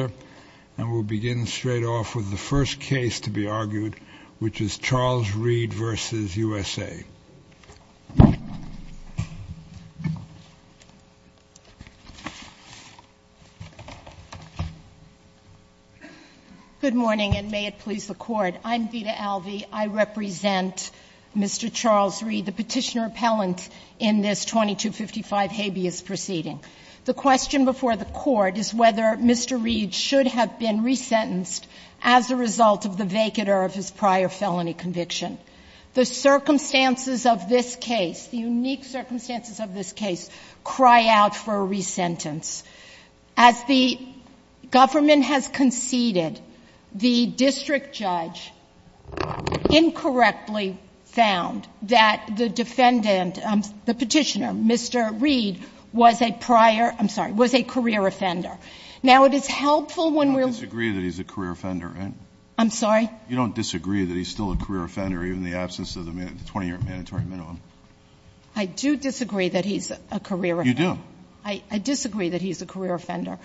Good morning, and may it please the Court. I'm Vita Alvey. I represent Mr. Charles Reed, the petitioner-appellant in this 2255 habeas proceeding. The question before the Court is whether Mr. Reed should have been resentenced as a result of the vacater of his prior felony conviction. The circumstances of this case, the unique circumstances of this case, cry out for a resentence. As the government has conceded, the district judge incorrectly found that the defendant the petitioner, Mr. Reed, was a prior, I'm sorry, was a career offender. Now, it is helpful when we're I disagree that he's a career offender, right? I'm sorry? You don't disagree that he's still a career offender even in the absence of the 20-year mandatory minimum? I do disagree that he's a career offender. You do? I disagree that he's a career offender,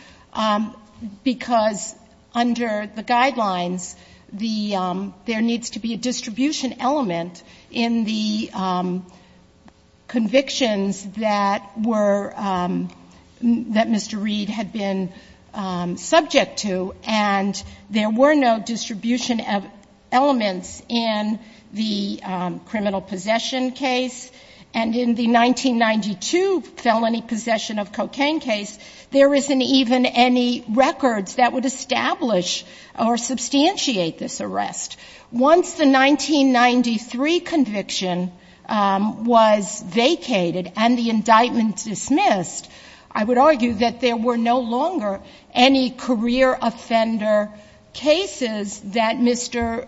because under the guidelines, the there needs to be a distribution element in the convictions that were that Mr. Reed had been subject to, and there were no distribution elements in the criminal possession case. And in the 1992 felony possession of cocaine case, there isn't even any records that would establish or substantiate this arrest. Once the 1993 conviction was vacated and the indictment dismissed, I would argue that there were no longer any career offender cases that Mr.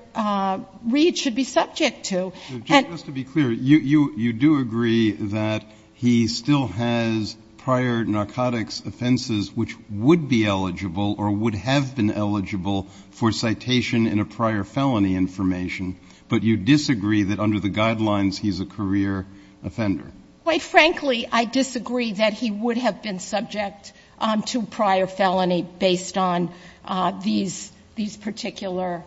Reed should be subject to. Just to be clear, you do agree that he still has prior narcotics offenses which would be eligible or would have been eligible for citation in a prior felony information, but you disagree that under the guidelines he's a career offender? Quite frankly, I disagree that he would have been subject to prior felony based on these particular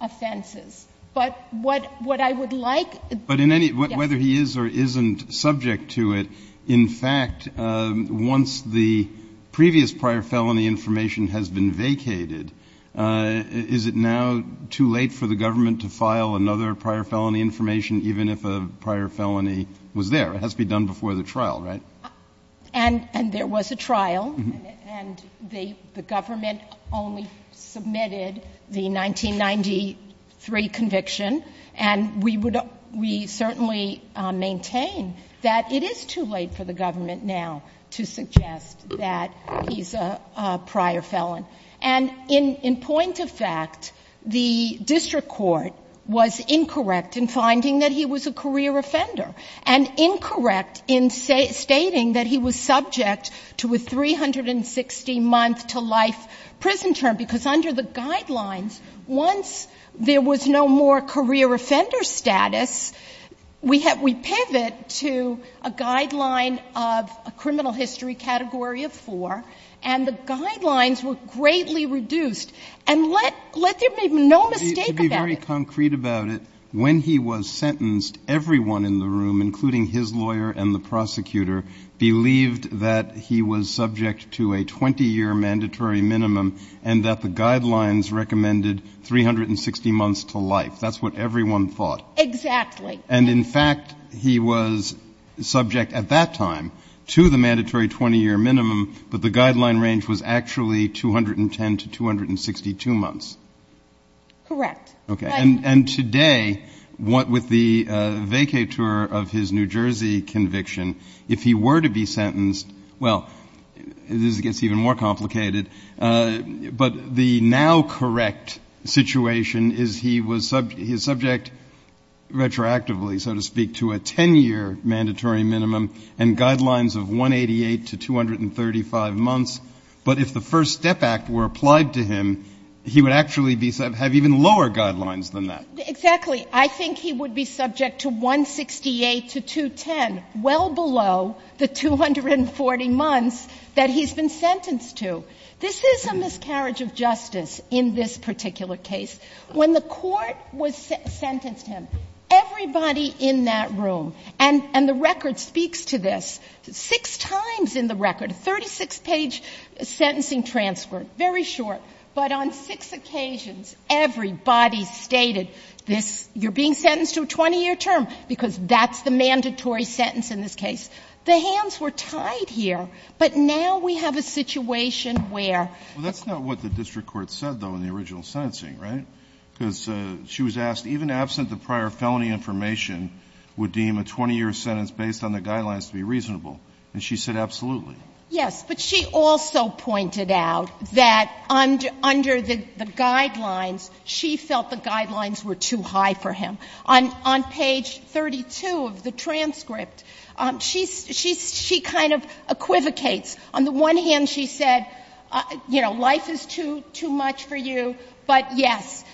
offenses. But what I would like to ask is whether he is or isn't subject to it. In fact, once the previous prior felony information has been vacated, is it now too late for the government to file another prior felony information, even if a prior felony was there? It has to be done before the trial, right? And there was a trial. And the government only submitted the 1993 conviction. And we certainly maintain that it is too late for the government now to suggest that he's a prior felon. And in point of fact, the district court was incorrect in finding that he was a career offender and incorrect in stating that he was subject to a 360-month-to-life prison term. Because under the guidelines, once there was no more career offender status, we pivot to a guideline of a criminal history category of four, and the guidelines were greatly reduced. And let there be no mistake about it. When he was sentenced, everyone in the room, including his lawyer and the prosecutor, believed that he was subject to a 20-year mandatory minimum and that the guidelines recommended 360 months to life. That's what everyone thought. Exactly. And, in fact, he was subject at that time to the mandatory 20-year minimum, but the guideline range was actually 210 to 262 months. Correct. Okay. And today, with the vacatur of his New Jersey conviction, if he were to be sentenced, well, this gets even more complicated, but the now correct situation is he was subject retroactively, so to speak, to a 10-year mandatory minimum and guidelines of 188 to 235 months. But if the First Step Act were applied to him, he would actually have even lower guidelines than that. Exactly. I think he would be subject to 168 to 210, well below the 240 months that he's been sentenced to. This is a miscarriage of justice in this particular case. When the court sentenced him, everybody in that room, and the record speaks to this, six times in the record, a 36-page sentencing transcript, very short, but on six occasions everybody stated this, you're being sentenced to a 20-year term, because that's the mandatory sentence in this case. The hands were tied here, but now we have a situation where. Well, that's not what the district court said, though, in the original sentencing, right? Because she was asked, even absent the prior felony information, would deem a 20-year sentence based on the guidelines to be reasonable. And she said absolutely. Yes, but she also pointed out that under the guidelines, she felt the guidelines were too high for him. On page 32 of the transcript, she kind of equivocates. On the one hand, she said, you know, life is too much for you, but yes,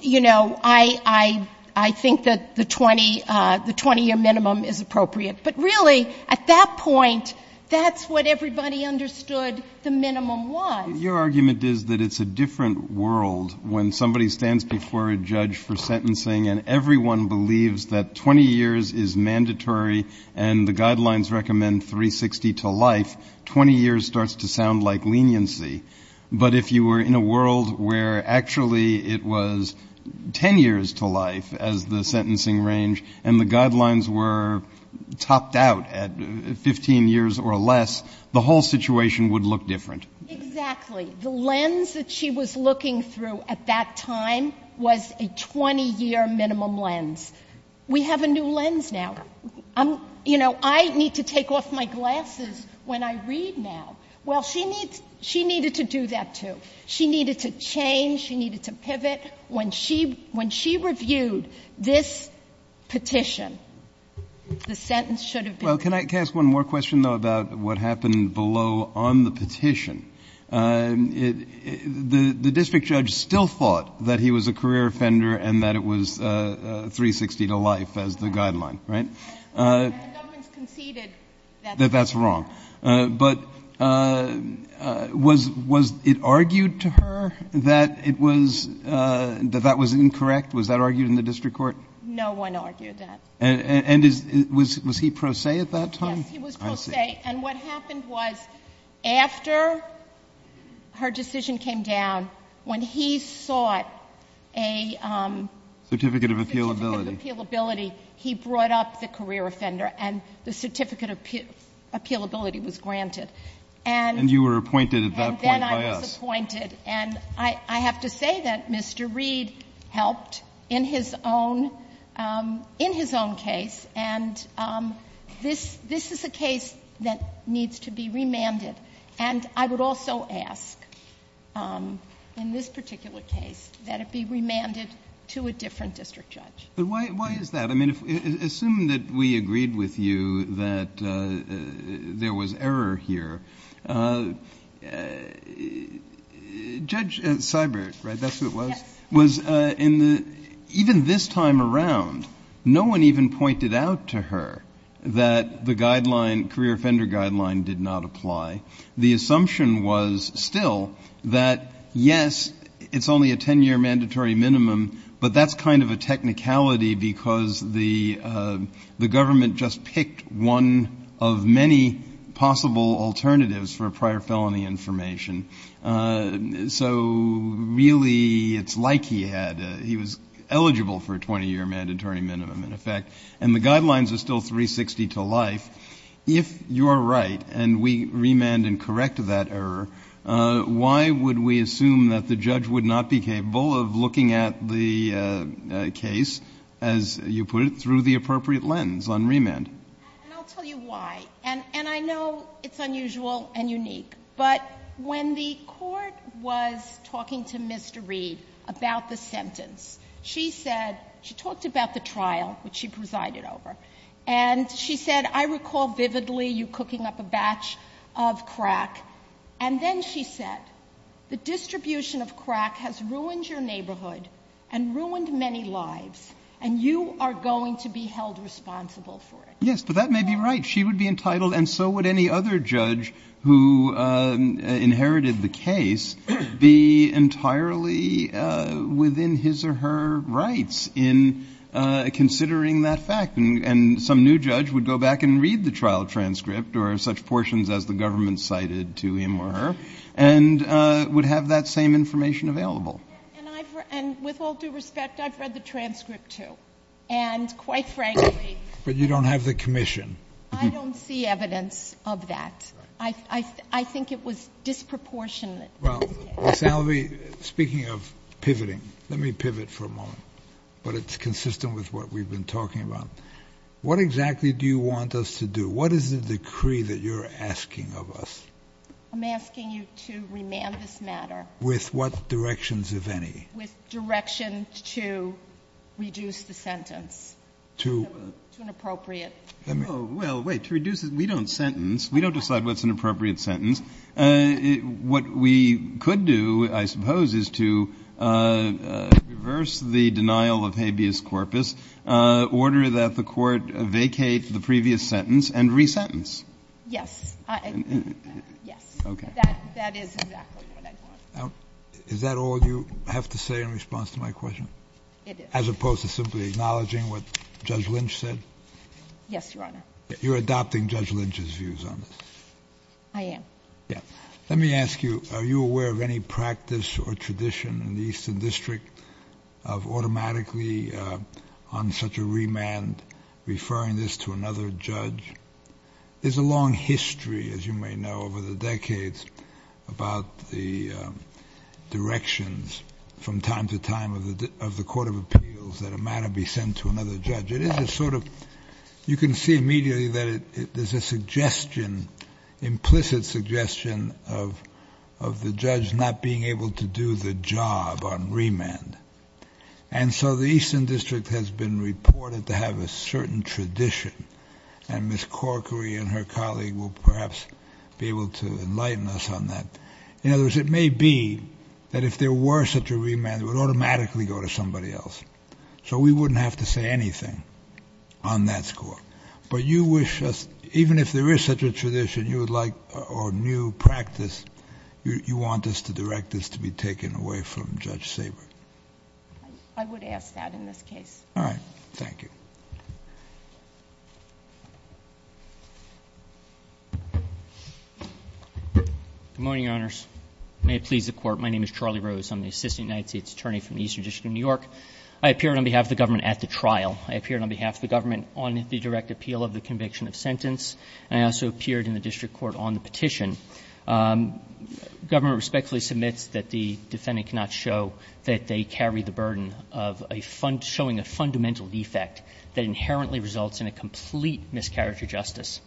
you know, I think that the 20-year minimum is appropriate. But really, at that point, that's what everybody understood the minimum was. Your argument is that it's a different world when somebody stands before a judge for sentencing and everyone believes that 20 years is mandatory and the guidelines recommend 360 to life, 20 years starts to sound like leniency. But if you were in a world where actually it was 10 years to life as the sentencing range and the guidelines were topped out at 15 years or less, the whole situation would look different. Exactly. The lens that she was looking through at that time was a 20-year minimum lens. We have a new lens now. You know, I need to take off my glasses when I read now. Well, she needed to do that, too. She needed to change. She needed to pivot. When she reviewed this petition, the sentence should have been reduced. Well, can I ask one more question, though, about what happened below on the petition? The district judge still thought that he was a career offender and that it was 360 to life as the guideline, right? No one's conceded that. That that's wrong. But was it argued to her that that was incorrect? Was that argued in the district court? No one argued that. And was he pro se at that time? Yes, he was pro se. And what happened was after her decision came down, when he sought a certificate of appealability, he brought up the career offender and the certificate of appealability was granted. And you were appointed at that point by us. I was appointed. And I have to say that Mr. Reed helped in his own case. And this is a case that needs to be remanded. And I would also ask in this particular case that it be remanded to a different district judge. But why is that? I mean, assume that we agreed with you that there was error here. Judge Seibert, right? That's who it was? Yes. Even this time around, no one even pointed out to her that the guideline, career offender guideline, did not apply. The assumption was still that, yes, it's only a 10-year mandatory minimum, but that's kind of a technicality because the government just picked one of many possible alternatives for prior felony information. So really it's like he had. He was eligible for a 20-year mandatory minimum, in effect. And the guidelines are still 360 to life. If you are right and we remand and correct that error, why would we assume that the judge would not be capable of looking at the case, as you put it, through the appropriate lens on remand? And I'll tell you why. And I know it's unusual and unique. But when the Court was talking to Mr. Reed about the sentence, she said, she talked about the trial, which she presided over, and she said, I recall vividly you cooking up a batch of crack, and then she said, the distribution of crack has ruined your neighborhood and ruined many lives, and you are going to be held responsible for it. Yes, but that may be right. She would be entitled, and so would any other judge who inherited the case, be entirely within his or her rights in considering that fact. And some new judge would go back and read the trial transcript, or such portions as the government cited to him or her, and would have that same information available. And with all due respect, I've read the transcript, too. And quite frankly ---- But you don't have the commission. I don't see evidence of that. I think it was disproportionate. Well, Ms. Alvey, speaking of pivoting, let me pivot for a moment. But it's consistent with what we've been talking about. What exactly do you want us to do? What is the decree that you're asking of us? I'm asking you to remand this matter. With what directions, if any? With directions to reduce the sentence to an appropriate ---- Well, wait, to reduce it, we don't sentence. We don't decide what's an appropriate sentence. What we could do, I suppose, is to reverse the denial of habeas corpus, order that the Court vacate the previous sentence and resentence. Yes. Yes. Okay. That is exactly what I want. Is that all you have to say in response to my question? It is. As opposed to simply acknowledging what Judge Lynch said? Yes, Your Honor. You're adopting Judge Lynch's views on this? I am. Let me ask you, are you aware of any practice or tradition in the Eastern District of automatically, on such a remand, referring this to another judge? There's a long history, as you may know, over the decades about the directions from time to time of the Court of Appeals that a matter be sent to another judge. It is a sort of ---- You can see immediately that there's a suggestion, implicit suggestion of the judge not being able to do the job on remand. And so the Eastern District has been reported to have a certain tradition, and Ms. Corkery and her colleague will perhaps be able to enlighten us on that. In other words, it may be that if there were such a remand, it would automatically go to somebody else. So we wouldn't have to say anything on that score. But you wish us, even if there is such a tradition you would like or new practice, you want us to direct this to be taken away from Judge Sabour? I would ask that in this case. All right. Thank you. Good morning, Your Honors. May it please the Court, my name is Charlie Rose. I'm the Assistant United States Attorney from the Eastern District of New York. I appeared on behalf of the government at the trial. I appeared on behalf of the government on the direct appeal of the conviction of sentence, and I also appeared in the district court on the petition. Government respectfully submits that the defendant cannot show that they carry the burden of a fund ---- showing a fundamental defect that inherently results in a complete mischaracter justice.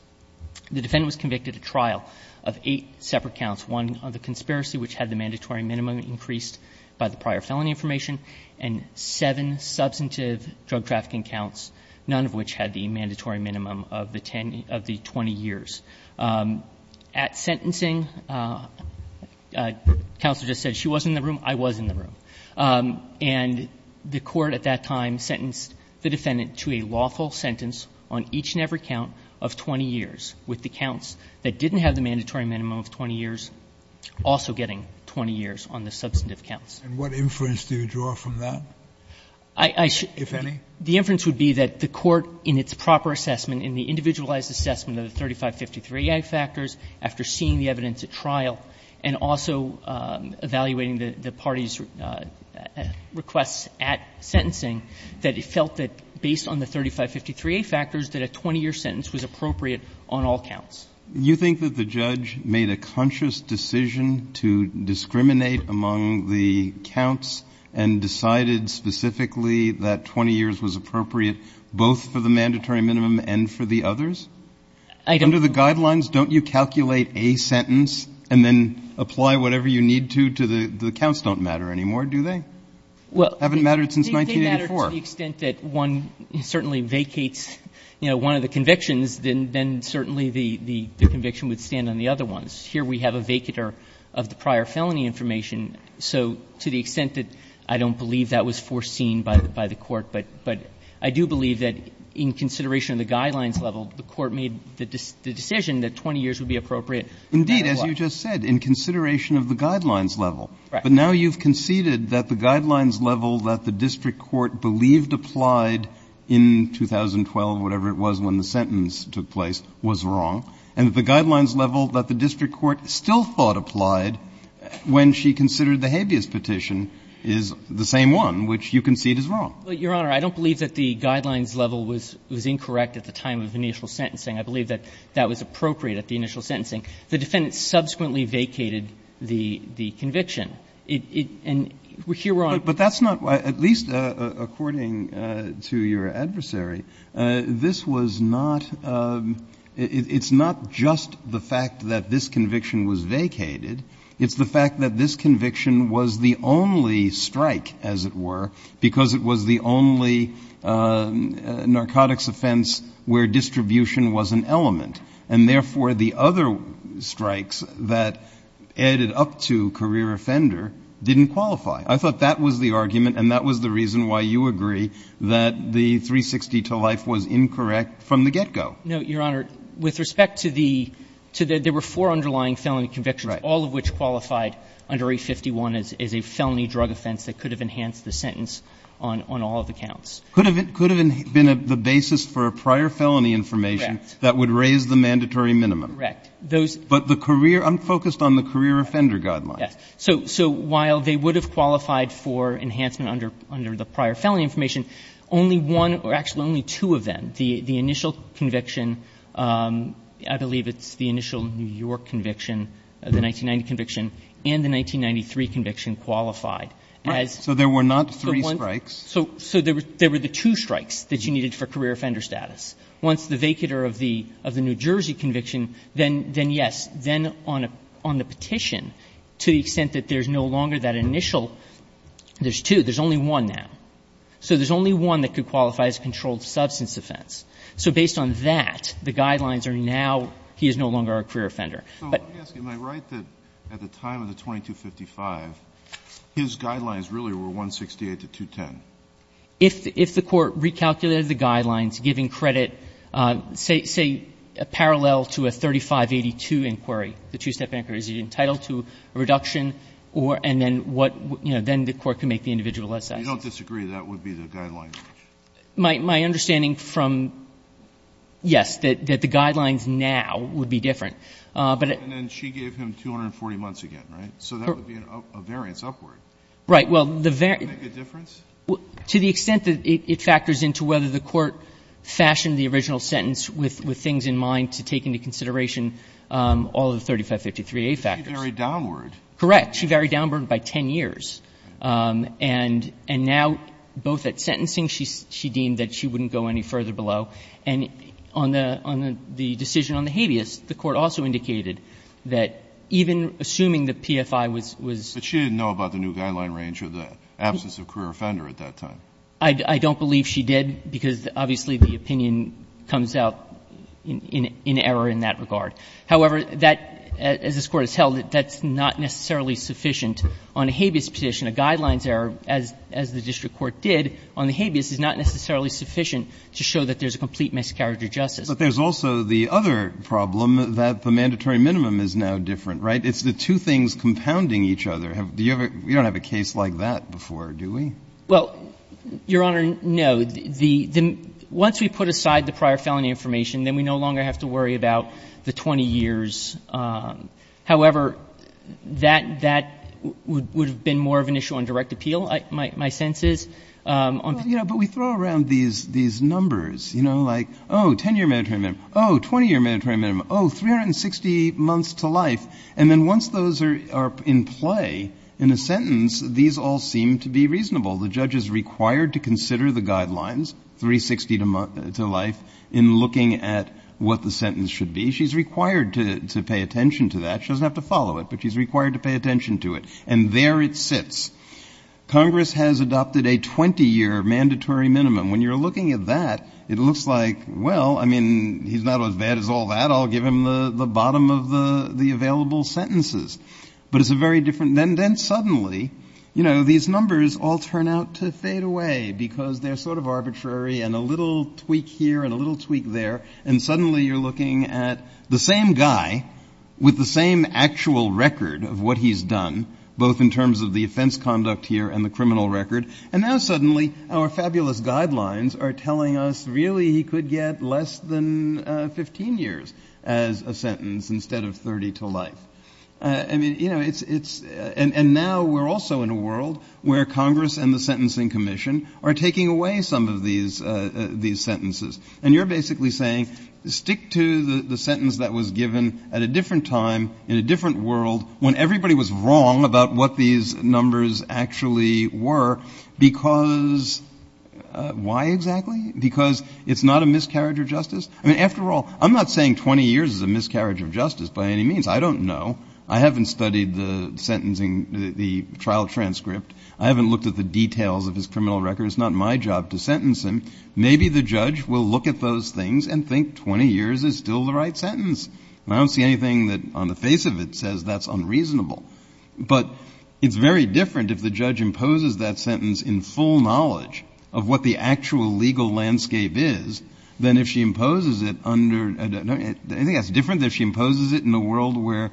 The defendant was convicted at trial of eight separate counts. One of the conspiracy, which had the mandatory minimum increased by the prior felony information, and seven substantive drug trafficking counts, none of which had the mandatory minimum of the 20 years. At sentencing, counsel just said she wasn't in the room, I was in the room. And the court at that time sentenced the defendant to a lawful sentence on each and every count of 20 years, with the counts that didn't have the mandatory minimum of 20 years also getting 20 years on the substantive counts. And what inference do you draw from that, if any? The inference would be that the court, in its proper assessment, in the individualized assessment of the 3553A factors, after seeing the evidence at trial, and also evaluating the party's requests at sentencing, that it felt that based on the 3553A factors that a 20-year sentence was appropriate on all counts. Do you think that the judge made a conscious decision to discriminate among the counts and decided specifically that 20 years was appropriate both for the mandatory minimum and for the others? I don't. Under the guidelines, don't you calculate a sentence and then apply whatever you need to to the ---- the counts don't matter anymore, do they? Well ---- Haven't mattered since 1984. Haven't mattered to the extent that one certainly vacates, you know, one of the convictions, then certainly the conviction would stand on the other ones. Here we have a vacater of the prior felony information. So to the extent that I don't believe that was foreseen by the court, but I do believe that in consideration of the guidelines level, the court made the decision that 20 years would be appropriate. Indeed, as you just said, in consideration of the guidelines level. Right. But now you've conceded that the guidelines level that the district court believed applied in 2012, whatever it was when the sentence took place, was wrong, and that the guidelines level that the district court still thought applied when she considered the habeas petition is the same one, which you concede is wrong. Your Honor, I don't believe that the guidelines level was incorrect at the time of initial sentencing. I believe that that was appropriate at the initial sentencing. The defendant subsequently vacated the conviction. And here we're on a point. But that's not why, at least according to your adversary, this was not — it's not just the fact that this conviction was vacated. It's the fact that this conviction was the only strike, as it were, because it was the only narcotics offense where distribution was an element. And therefore, the other strikes that added up to career offender didn't qualify. I thought that was the argument, and that was the reason why you agree that the 360 to life was incorrect from the get-go. No, Your Honor. With respect to the — there were four underlying felony convictions, all of which qualified under A51 as a felony drug offense that could have enhanced the sentence on all of the counts. Could have been the basis for a prior felony information that would raise the mandatory minimum. Correct. Those — But the career — I'm focused on the career offender guidelines. Yes. So while they would have qualified for enhancement under the prior felony information, only one — or, actually, only two of them, the initial conviction — I believe it's the initial New York conviction, the 1990 conviction, and the 1993 conviction qualified. Right. So there were not three strikes. So there were the two strikes that you needed for career offender status. Once the vacater of the New Jersey conviction, then yes. Then on the petition, to the extent that there's no longer that initial — there's two. There's only one now. So there's only one that could qualify as a controlled substance offense. So based on that, the guidelines are now he is no longer a career offender. So let me ask you, am I right that at the time of the 2255, his guidelines really were 168 to 210? If the Court recalculated the guidelines, giving credit, say, parallel to a 3582 inquiry, the two-step inquiry, is he entitled to a reduction or — and then what — you know, then the Court can make the individual assessment. You don't disagree that would be the guidelines? My understanding from — yes, that the guidelines now would be different. But — And then she gave him 240 months again, right? So that would be a variance upward. Right. Well, the — Does that make a difference? To the extent that it factors into whether the Court fashioned the original sentence with things in mind to take into consideration all of the 3553a factors. But she varied downward. Correct. She varied downward by 10 years. And now, both at sentencing, she deemed that she wouldn't go any further below. And on the — on the decision on the habeas, the Court also indicated that even assuming the PFI was — But she didn't know about the new guideline range or the absence of career offender at that time. I don't believe she did, because obviously the opinion comes out in error in that regard. However, that, as this Court has held, that's not necessarily sufficient. On a habeas petition, a guidelines error, as the district court did on the habeas, is not necessarily sufficient to show that there's a complete miscarriage of justice. But there's also the other problem, that the mandatory minimum is now different, right? It's the two things compounding each other. You don't have a case like that before, do we? Well, Your Honor, no. Once we put aside the prior felony information, then we no longer have to worry about the 20 years. However, that would have been more of an issue on direct appeal, my sense is. But we throw around these numbers, you know, like, oh, 10-year mandatory minimum. Oh, 20-year mandatory minimum. Oh, 360 months to life. And then once those are in play in a sentence, these all seem to be reasonable. The judge is required to consider the guidelines, 360 to life, in looking at what the sentence should be. She's required to pay attention to that. She doesn't have to follow it, but she's required to pay attention to it. And there it sits. Congress has adopted a 20-year mandatory minimum. When you're looking at that, it looks like, well, I mean, he's not as bad as all that. I'll give him the bottom of the available sentences. But it's a very different. Then suddenly, you know, these numbers all turn out to fade away because they're sort of arbitrary and a little tweak here and a little tweak there. And suddenly you're looking at the same guy with the same actual record of what he's done, both in terms of the offense conduct here and the criminal record. And now suddenly our fabulous guidelines are telling us really he could get less than 15 years as a sentence instead of 30 to life. I mean, you know, it's – and now we're also in a world where Congress and the Sentencing Commission are taking away some of these sentences. And you're basically saying stick to the sentence that was given at a different time in a different world when everybody was wrong about what these numbers actually were because – why exactly? Because it's not a miscarriage of justice. I mean, after all, I'm not saying 20 years is a miscarriage of justice by any means. I don't know. I haven't studied the sentencing – the trial transcript. I haven't looked at the details of his criminal record. It's not my job to sentence him. Maybe the judge will look at those things and think 20 years is still the right sentence. And I don't see anything that on the face of it says that's unreasonable. But it's very different if the judge imposes that sentence in full knowledge of what the actual legal landscape is than if she imposes it under – I think that's different than if she imposes it in a world where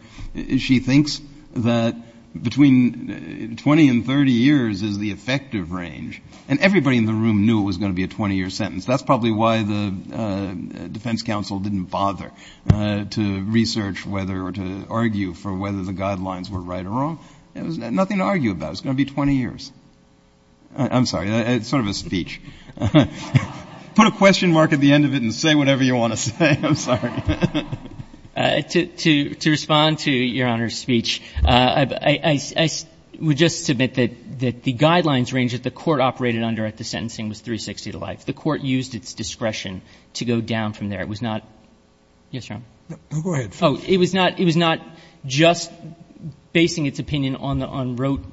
she thinks that between 20 and 30 years is the effective range. And everybody in the room knew it was going to be a 20-year sentence. That's probably why the defense counsel didn't bother to research whether or to argue for whether the guidelines were right or wrong. There was nothing to argue about. It was going to be 20 years. I'm sorry. It's sort of a speech. Put a question mark at the end of it and say whatever you want to say. I'm sorry. To respond to Your Honor's speech, I would just submit that the guidelines range that the court operated under at the sentencing was 360 to life. The court used its discretion to go down from there. It was not – yes, Your Honor. Go ahead. It was not just basing its opinion on the unwrote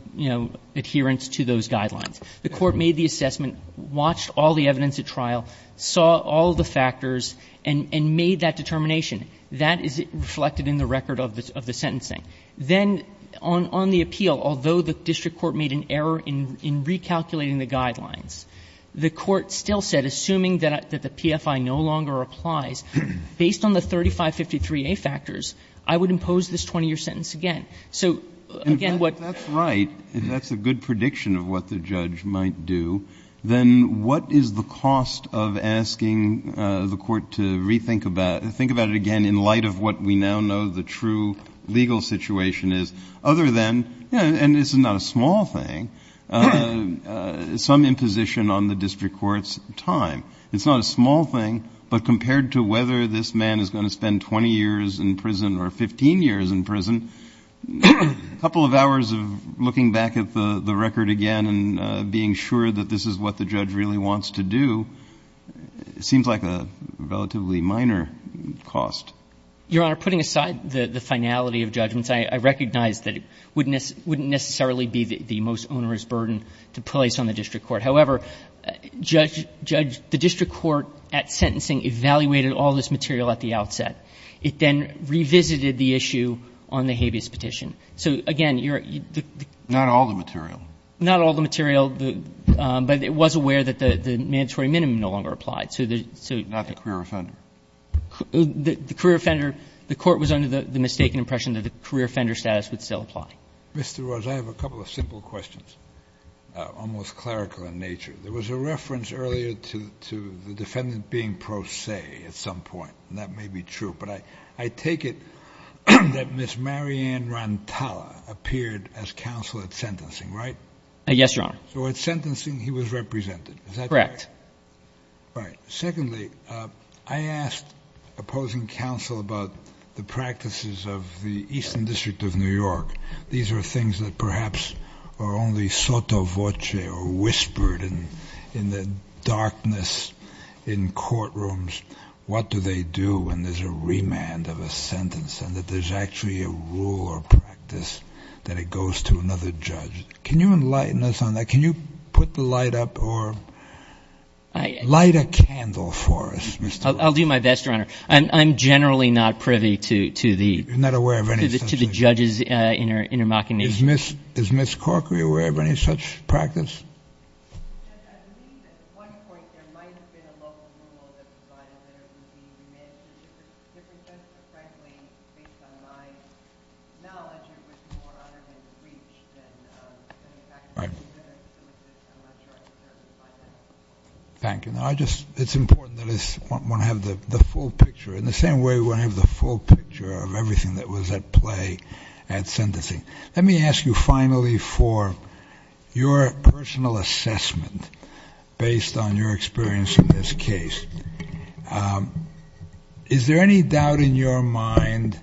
adherence to those guidelines. The court made the assessment, watched all the evidence at trial, saw all the factors and made that determination. That is reflected in the record of the sentencing. Then on the appeal, although the district court made an error in recalculating the guidelines, the court still said, assuming that the PFI no longer applies, based on the 3553A factors, I would impose this 20-year sentence again. So again, what – If that's right, if that's a good prediction of what the judge might do, then what is the cost of asking the court to rethink about – think about it again in light of what we now know the true legal situation is, other than – and this is not a small thing – some imposition on the district court's time. It's not a small thing, but compared to whether this man is going to spend 20 years in prison or 15 years in prison, a couple of hours of looking back at the record again and being sure that this is what the judge really wants to do seems like a relatively minor cost. Your Honor, putting aside the finality of judgments, I recognize that it wouldn't necessarily be the most onerous burden to place on the district court. However, the district court at sentencing evaluated all this material at the outset. It then revisited the issue on the habeas petition. So again, you're – Not all the material. Not all the material, but it was aware that the mandatory minimum no longer applied. Not the career offender. Because I have a couple of simple questions, almost clerical in nature. There was a reference earlier to the defendant being pro se at some point, and that may be true, but I take it that Ms. Marianne Rantala appeared as counsel at sentencing, right? Yes, Your Honor. So at sentencing, he was represented. Is that correct? Correct. Right. Secondly, I asked opposing counsel about the practices of the Eastern District of New York. These are things that perhaps are only sotto voce or whispered in the darkness in courtrooms. What do they do when there's a remand of a sentence and that there's actually a rule or practice that it goes to another judge? Can you enlighten us on that? Can you put the light up or light a candle for us, Mr. – I'll do my best, Your Honor. I'm generally not privy to the judges' intermocking nature. Is Ms. Corkery aware of any such practice? Judge, I believe at one point there might have been a local rule that provided that it would be remanded to a different judge. But frankly, based on my knowledge, it would be more under-reached than the practice. I'm not sure I deserve to find that out. Thank you. It's important that we have the full picture. In the same way, we want to have the full picture of everything that was at play at sentencing. Let me ask you finally for your personal assessment based on your experience in this case. Is there any doubt in your mind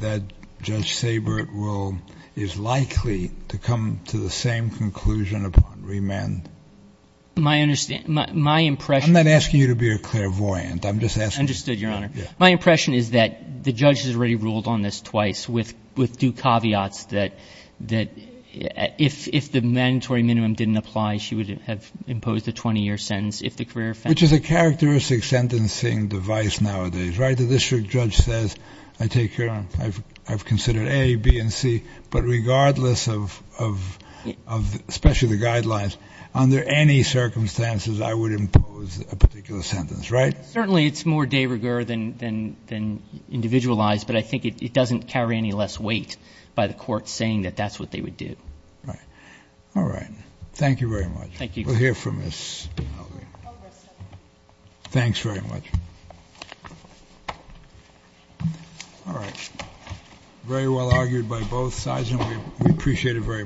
that Judge Sabert is likely to come to the same conclusion upon remand? My impression – I'm not asking you to be a clairvoyant. I'm just asking – Understood, Your Honor. My impression is that the judge has already ruled on this twice with due caveats that if the mandatory minimum didn't apply, she would have imposed a 20-year sentence if the career – Which is a characteristic sentencing device nowadays, right? I take your – I've considered A, B, and C. But regardless of – especially the guidelines, under any circumstances, I would impose a particular sentence, right? Certainly, it's more de rigueur than individualized, but I think it doesn't carry any less weight by the court saying that that's what they would do. Right. All right. Thank you very much. Thank you. We'll hear from Ms. Halligan. Thanks very much. All right. Very well argued by both sides, and we appreciate it very much.